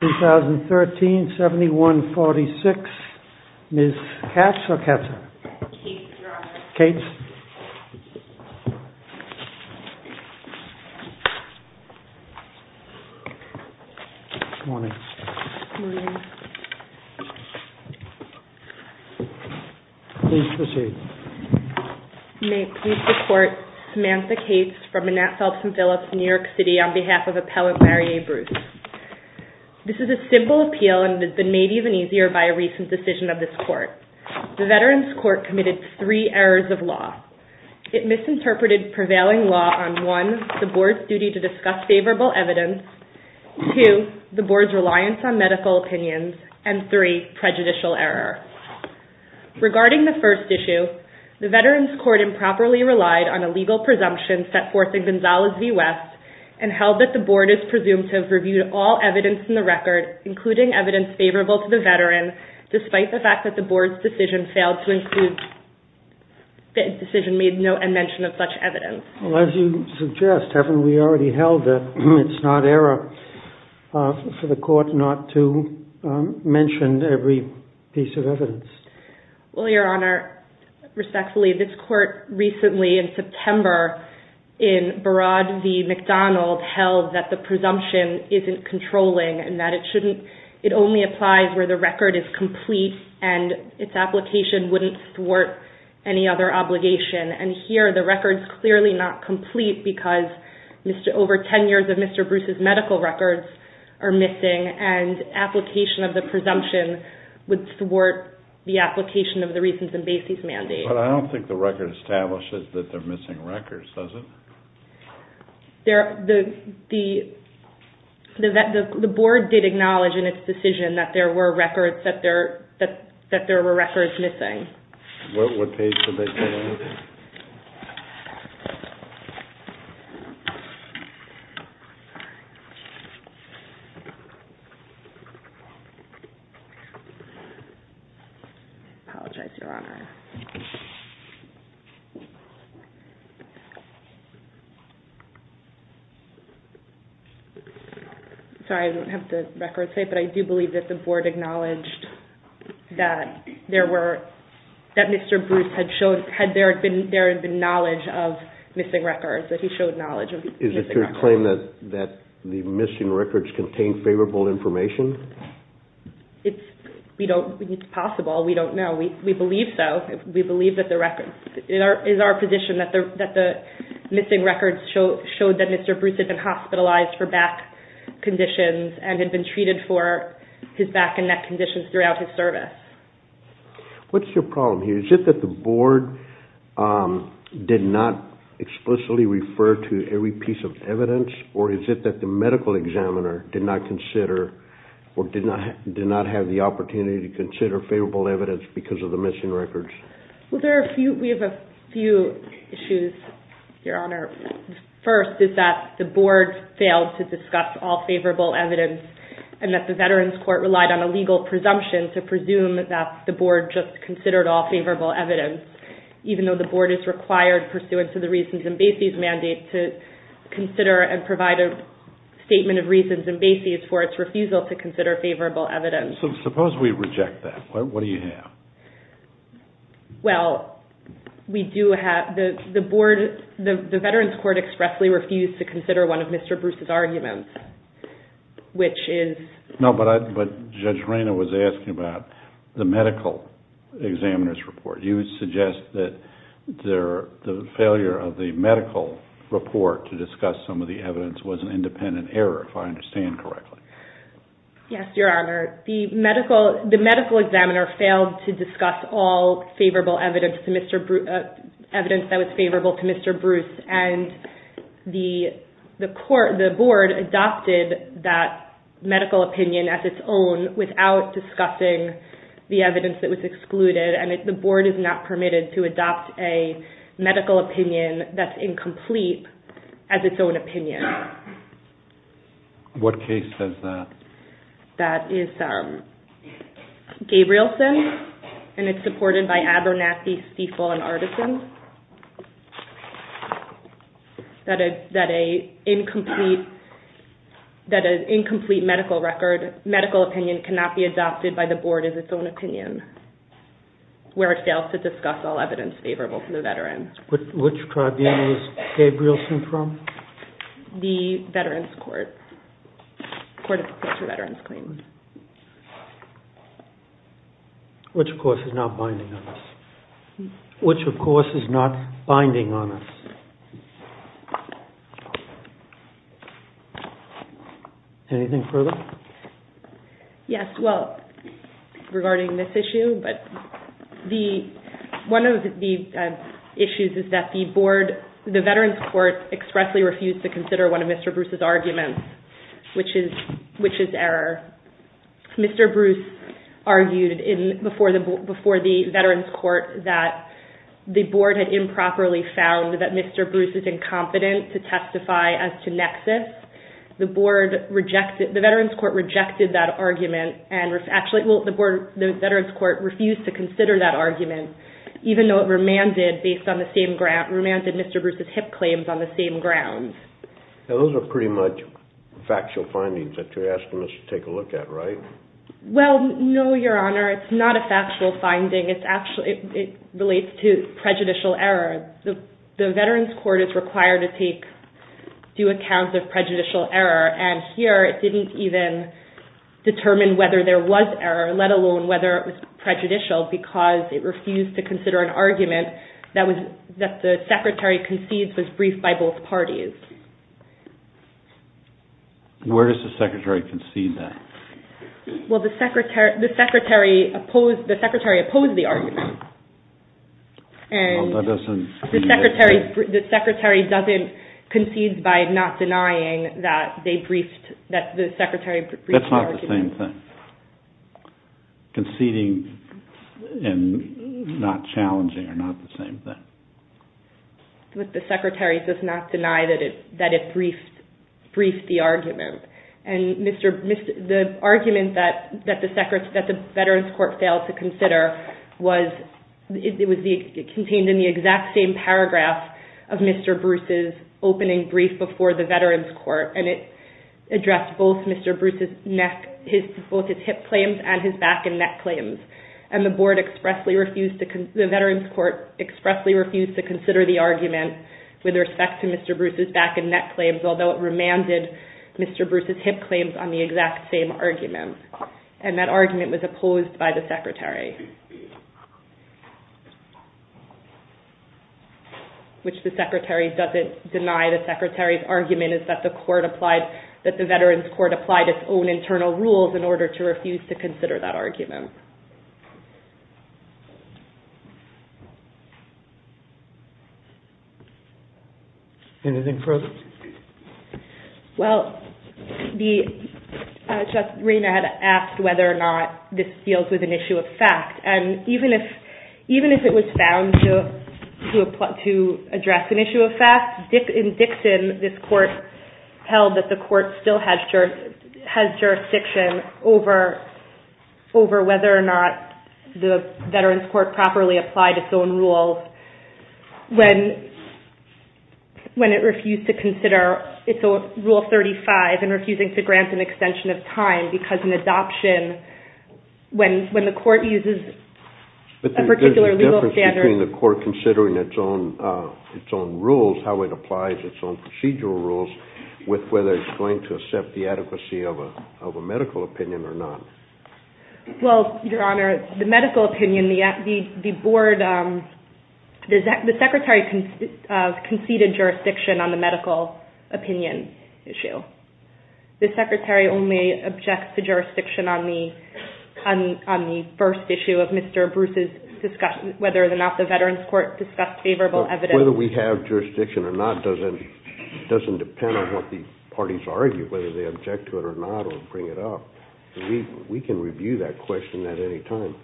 2013-71-46, Ms. Cates or Katz? Cates, Your Honor. Cates. Good morning. Good morning. Please proceed. May I please report, Samantha Cates from Annette Phelps and Phillips, New York City, on behalf of Appellant Mary A. Bruce. This is a simple appeal and it has been made even easier by a recent decision of this Court. The Veterans Court committed three errors of law. It misinterpreted prevailing law on 1. the Board's duty to discuss favorable evidence, 2. the Board's reliance on medical opinions, and 3. prejudicial error. Regarding the first issue, the Veterans Court improperly relied on a legal presumption set forth in Gonzales v. West and held that the Board is presumed to have reviewed all evidence in the record, including evidence favorable to the Veteran, despite the fact that the Board's decision made no mention of such evidence. Well, as you suggest, haven't we already held that it's not error for the Court not to mention every piece of evidence? Well, Your Honor, respectfully, this Court recently, in September, in Barad v. McDonald, held that the presumption isn't controlling and that it only applies where the record is complete and its application wouldn't thwart any other obligation. And here, the record's clearly not complete because over 10 years of Mr. Bruce's medical records are missing and application of the presumption would thwart the application of the reasons in Basie's mandate. But I don't think the record establishes that they're missing records, does it? The Board did acknowledge in its decision that there were records missing. Apologize, Your Honor. Sorry, I don't have the records, but I do believe that the Board acknowledged that there were records missing. That Mr. Bruce had shown, there had been knowledge of missing records, that he showed knowledge of missing records. Is it your claim that the missing records contain favorable information? It's possible. We don't know. We believe so. We believe that the records, it is our position that the missing records show that Mr. Bruce had been hospitalized for back conditions and had been treated for his back and neck conditions throughout his service. What's your problem here? Is it that the Board did not explicitly refer to every piece of evidence, or is it that the medical examiner did not consider or did not have the opportunity to consider favorable evidence because of the missing records? We have a few issues, Your Honor. First is that the Board failed to discuss all favorable evidence and that the Veterans Court relied on a legal presumption to presume that the Board just considered all favorable evidence, even though the Board is required, pursuant to the Reasons and Bases mandate, to consider and provide a statement of reasons and bases for its refusal to consider favorable evidence. Suppose we reject that. What do you have? Well, the Veterans Court expressly refused to consider one of Mr. Bruce's arguments, which is... No, but Judge Reyna was asking about the medical examiner's report. You would suggest that the failure of the medical report to discuss some of the evidence was an independent error, if I understand correctly. Yes, Your Honor. The medical examiner failed to discuss all favorable evidence that was favorable to Mr. Bruce, and the Board adopted that medical opinion as its own without discussing the evidence that was excluded, and the Board is not permitted to adopt a medical opinion that's incomplete as its own opinion. What case does that? That is Gabrielson, and it's supported by Abernathy, Stiefel, and Artisans. That an incomplete medical opinion cannot be adopted by the Board as its own opinion, where it fails to discuss all evidence favorable to the Veteran. Which tribune is Gabrielson from? The Veterans Court. The Court of Appeals for Veterans Claims. Which, of course, is not binding on us. Anything further? Yes, well, regarding this issue, but one of the issues is that the Veterans Court expressly refused to consider one of Mr. Bruce's arguments, which is error. Mr. Bruce argued before the Veterans Court that the Board had improperly found that Mr. Bruce is incompetent to testify as to nexus. The Veterans Court rejected that argument and refused to consider that argument, even though it remanded Mr. Bruce's HIP claims on the same grounds. Now, those are pretty much factual findings that you're asking us to take a look at, right? Well, no, Your Honor. It's not a factual finding. It relates to prejudicial error. The Veterans Court is required to take due account of prejudicial error, and here it didn't even determine whether there was error, let alone whether it was prejudicial, because it refused to consider an argument that the Secretary concedes was briefed by both parties. Where does the Secretary concede that? Well, the Secretary opposed the argument. And the Secretary doesn't concede by not denying that the Secretary briefed the argument. That's not the same thing. Conceding and not challenging are not the same thing. But the Secretary does not deny that it briefed the argument. The argument that the Veterans Court failed to consider contained in the exact same paragraph of Mr. Bruce's opening brief before the Veterans Court, and it addressed both his HIP claims and his back and neck claims. And the Veterans Court expressly refused to consider the argument with respect to Mr. Bruce's back and neck claims, although it remanded Mr. Bruce's HIP claims on the exact same argument. And that argument was opposed by the Secretary. Which the Secretary doesn't deny. The Secretary's argument is that the Veterans Court applied its own internal rules in order to refuse to consider that argument. Anything further? Well, Justice Rayner had asked whether or not this deals with an issue of fact. And even if it was found to address an issue of fact, in Dixon this Court held that the Court still has jurisdiction over whether or not the Veterans Court properly applied its own rules when it refused to consider its Rule 35 and refusing to grant an extension of time because an adoption, when the Court uses a particular legal standard. But there's a difference between the Court considering its own rules, how it applies its own procedural rules, with whether it's going to accept the adequacy of a medical opinion or not. Well, Your Honor, the medical opinion, the Board, the Secretary conceded jurisdiction on the medical opinion issue. The Secretary only objects to jurisdiction on the first issue of Mr. Bruce's discussion, whether or not the Veterans Court discussed favorable evidence. Whether we have jurisdiction or not doesn't depend on what the parties argue, whether they object to it or not or bring it up. We can review that question at any time.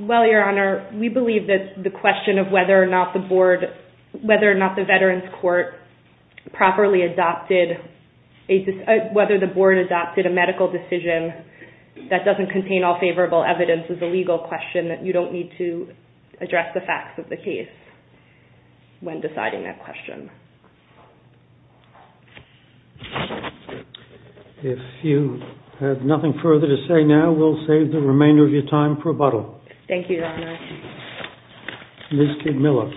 Well, Your Honor, we believe that the question of whether or not the Board, whether or not the Veterans Court properly adopted, whether the Board adopted a medical decision that doesn't contain all favorable evidence is a legal question that you don't need to address the facts of the case when deciding that question. If you have nothing further to say now, we'll save the remainder of your time for rebuttal. Thank you, Your Honor. Ms. Kidmiller.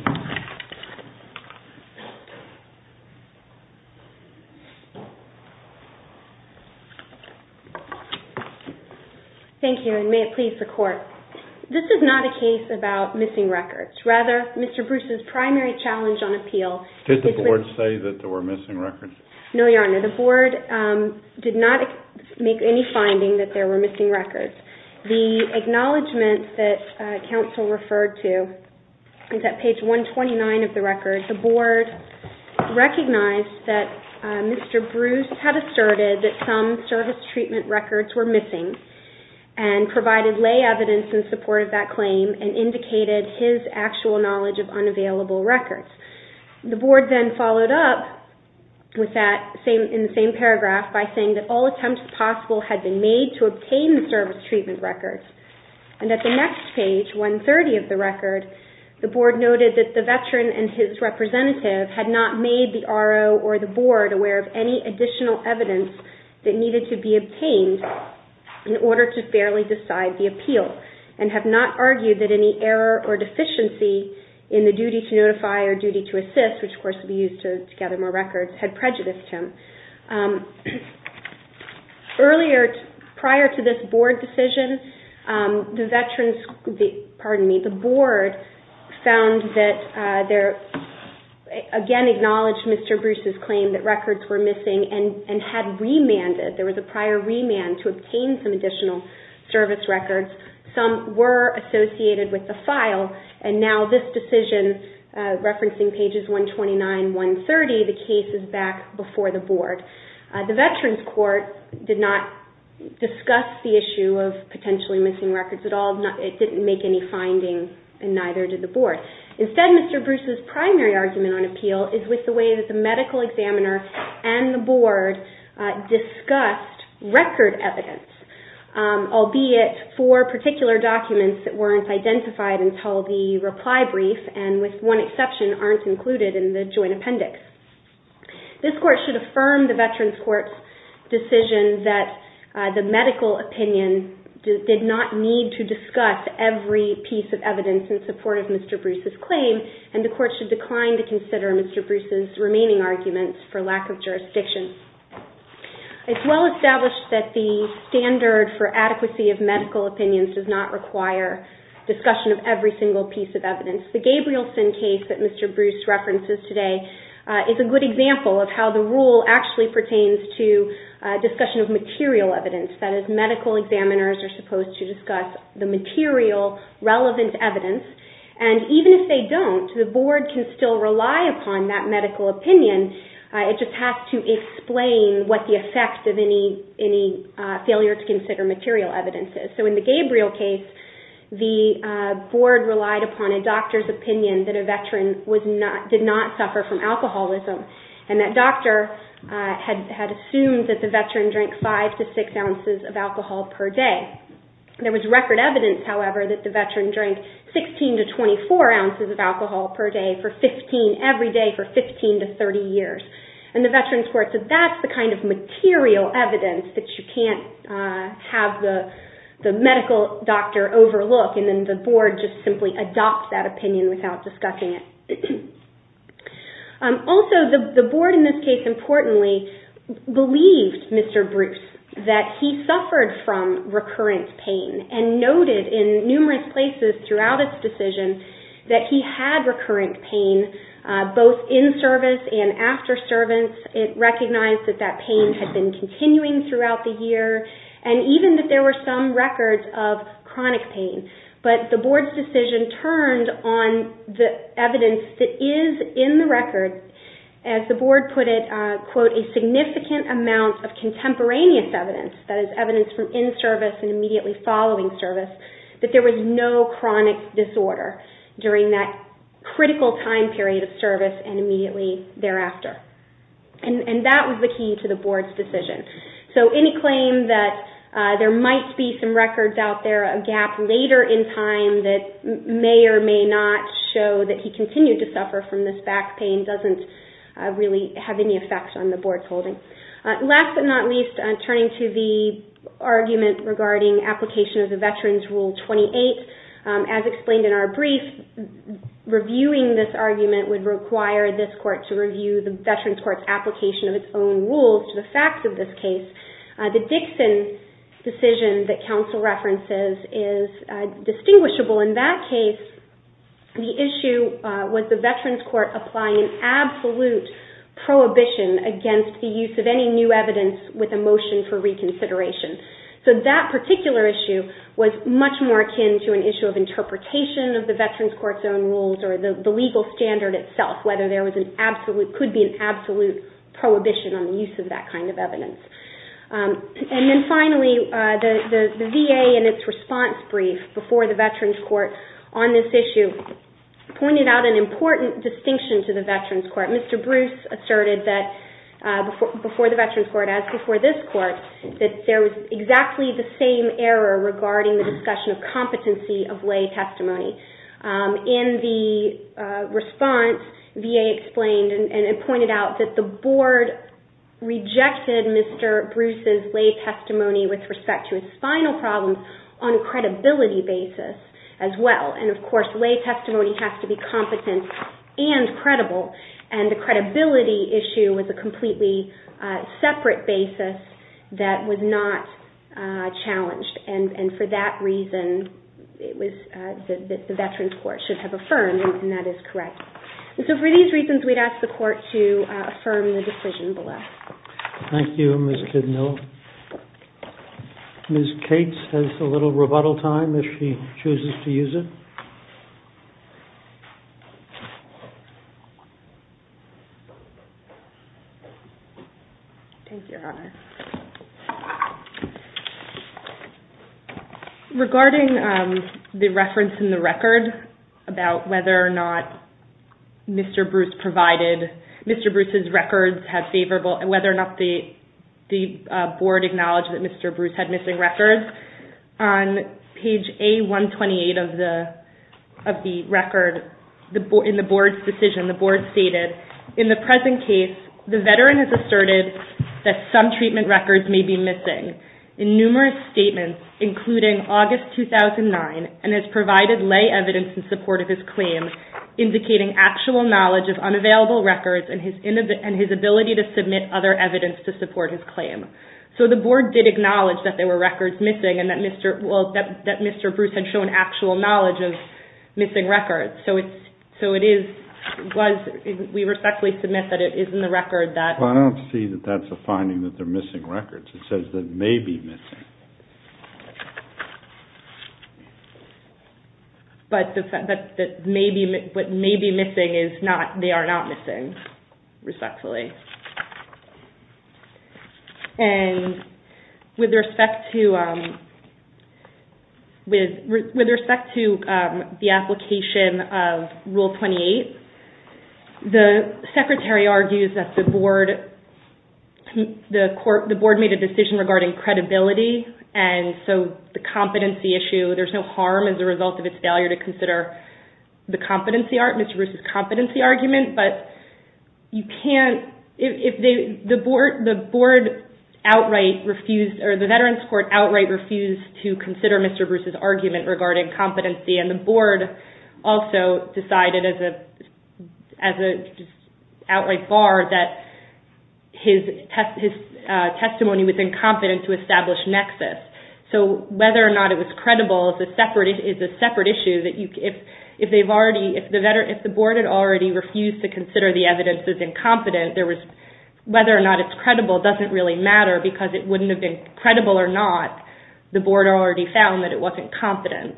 Thank you, and may it please the Court. This is not a case about missing records. Rather, Mr. Bruce's primary challenge on appeal is with the board. Did the Board say that there were missing records? No, Your Honor. The Board did not make any finding that there were missing records. The acknowledgment that counsel referred to is at page 129 of the record. The Board recognized that Mr. Bruce had asserted that some service treatment records were missing and provided lay evidence in support of that claim and indicated his actual knowledge of unavailable records. The Board then followed up in the same paragraph by saying that all attempts possible had been made to obtain the service treatment records. And at the next page, 130 of the record, the Board noted that the veteran and his representative had not made the RO or the Board aware of any additional evidence that needed to be obtained in order to fairly decide the appeal and have not argued that any error or deficiency in the duty to notify or duty to assist, which, of course, would be used to gather more records, had prejudiced him. Prior to this Board decision, the Board found that they again acknowledged Mr. Bruce's claim that records were missing and had remanded. There was a prior remand to obtain some additional service records. Some were associated with the file, and now this decision, referencing pages 129 and 130, the case is back before the Board. The Veterans Court did not discuss the issue of potentially missing records at all. It didn't make any findings, and neither did the Board. Instead, Mr. Bruce's primary argument on appeal is with the way that the medical examiner and the Board discussed record evidence, albeit for particular documents that weren't identified until the reply brief and, with one exception, aren't included in the joint appendix. This Court should affirm the Veterans Court's decision that the medical opinion did not need to discuss every piece of evidence in support of Mr. Bruce's claim, and the Court should decline to consider Mr. Bruce's remaining arguments for lack of jurisdiction. It's well established that the standard for adequacy of medical opinions does not require discussion of every single piece of evidence. The Gabrielson case that Mr. Bruce references today is a good example of how the rule actually pertains to discussion of material evidence. That is, medical examiners are supposed to discuss the material, relevant evidence, and even if they don't, the Board can still rely upon that medical opinion. It just has to explain what the effect of any failure to consider material evidence is. So in the Gabriel case, the Board relied upon a doctor's opinion that a veteran did not suffer from alcoholism, and that doctor had assumed that the veteran drank 5 to 6 ounces of alcohol per day. There was record evidence, however, that the veteran drank 16 to 24 ounces of alcohol per day every day for 15 to 30 years, and the Veterans Court said that's the kind of material evidence that you can't have the medical doctor overlook, and then the Board just simply adopts that opinion without discussing it. Also, the Board in this case, importantly, believed Mr. Bruce that he suffered from recurrent pain and noted in numerous places throughout its decision that he had recurrent pain, both in service and after service. It recognized that that pain had been continuing throughout the year and even that there were some records of chronic pain, but the Board's decision turned on the evidence that is in the record. As the Board put it, a significant amount of contemporaneous evidence, that is evidence from in service and immediately following service, that there was no chronic disorder during that critical time period of service and immediately thereafter. And that was the key to the Board's decision. So any claim that there might be some records out there, a gap later in time that may or may not show that he continued to suffer from this back pain, doesn't really have any effect on the Board's holding. Last but not least, turning to the argument regarding application of the Veterans Rule 28, as explained in our brief, reviewing this argument would require this Court to review the Veterans Court's application of its own rules to the facts of this case. The Dixon decision that counsel references is distinguishable. In that case, the issue was the Veterans Court applying an absolute prohibition against the use of any new evidence with a motion for reconsideration. So that particular issue was much more akin to an issue of interpretation of the Veterans Court's own rules or the legal standard itself, whether there could be an absolute prohibition on the use of that kind of evidence. And then finally, the VA in its response brief before the Veterans Court on this issue pointed out an important distinction to the Veterans Court. Mr. Bruce asserted that before the Veterans Court, as before this Court, that there was exactly the same error regarding the discussion of competency of lay testimony. In the response, VA explained and pointed out that the Board rejected Mr. Bruce's lay testimony with respect to his spinal problems on a credibility basis as well. And, of course, lay testimony has to be competent and credible. And the credibility issue was a completely separate basis that was not challenged. And for that reason, the Veterans Court should have affirmed, and that is correct. And so for these reasons, we'd ask the Court to affirm the decision below. Thank you, Ms. Kidnell. Ms. Cates has a little rebuttal time if she chooses to use it. Thank you, Your Honor. Regarding the reference in the record about whether or not Mr. Bruce provided Mr. Bruce's records had favorable and whether or not the Board acknowledged that Mr. Bruce had missing records, on page A128 of the record, in the Board's decision, the Board stated, in the present case, the Veteran has asserted that some treatment records may be missing. In numerous statements, including August 2009, and has provided lay evidence in support of his claim, indicating actual knowledge of unavailable records and his ability to submit other evidence to support his claim. So the Board did acknowledge that there were records missing and that Mr. Bruce had shown actual knowledge of missing records. So it is, we respectfully submit that it is in the record that Well, I don't see that that's a finding that there are missing records. It says that may be missing. But what may be missing is not, they are not missing, respectfully. And with respect to with respect to the application of Rule 28, the Secretary argues that the Board the Board made a decision regarding credibility and so the competency issue, there's no harm as a result of its failure to consider the competency argument, Mr. Bruce's competency argument, but you can't, if the Board outright refused, or the Veterans Court outright refused to consider Mr. Bruce's argument regarding competency, and the Board also decided as an outright bar that his testimony was incompetent to establish nexus. So whether or not it was credible is a separate issue. If the Board had already refused to consider the evidence as incompetent, whether or not it's credible doesn't really matter because it wouldn't have been credible or not. The Board already found that it wasn't competent.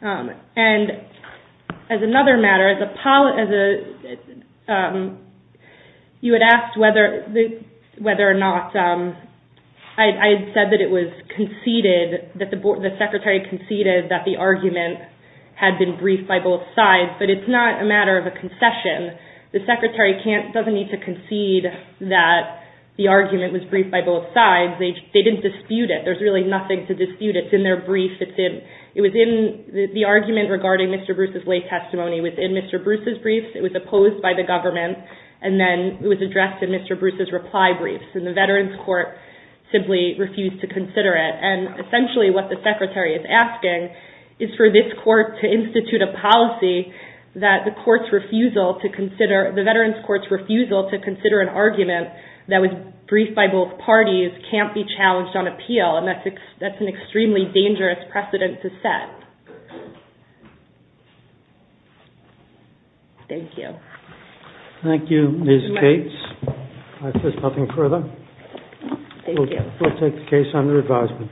And as another matter, you had asked whether or not, I had said that it was conceded, that the Secretary conceded that the argument had been briefed by both sides, but it's not a matter of a concession. The Secretary doesn't need to concede that the argument was briefed by both sides. They didn't dispute it. There's really nothing to dispute it. It's in their brief. It was in the argument regarding Mr. Bruce's lay testimony. It was in Mr. Bruce's brief. It was opposed by the government. And then it was addressed in Mr. Bruce's reply brief. And the Veterans Court simply refused to consider it. And essentially what the Secretary is asking is for this Court to institute a policy that the Veterans Court's refusal to consider an argument that was briefed by both parties can't be challenged on appeal. And that's an extremely dangerous precedent to set. Thank you. Thank you, Ms. Gates. If there's nothing further, we'll take the case under advisement. Thank you.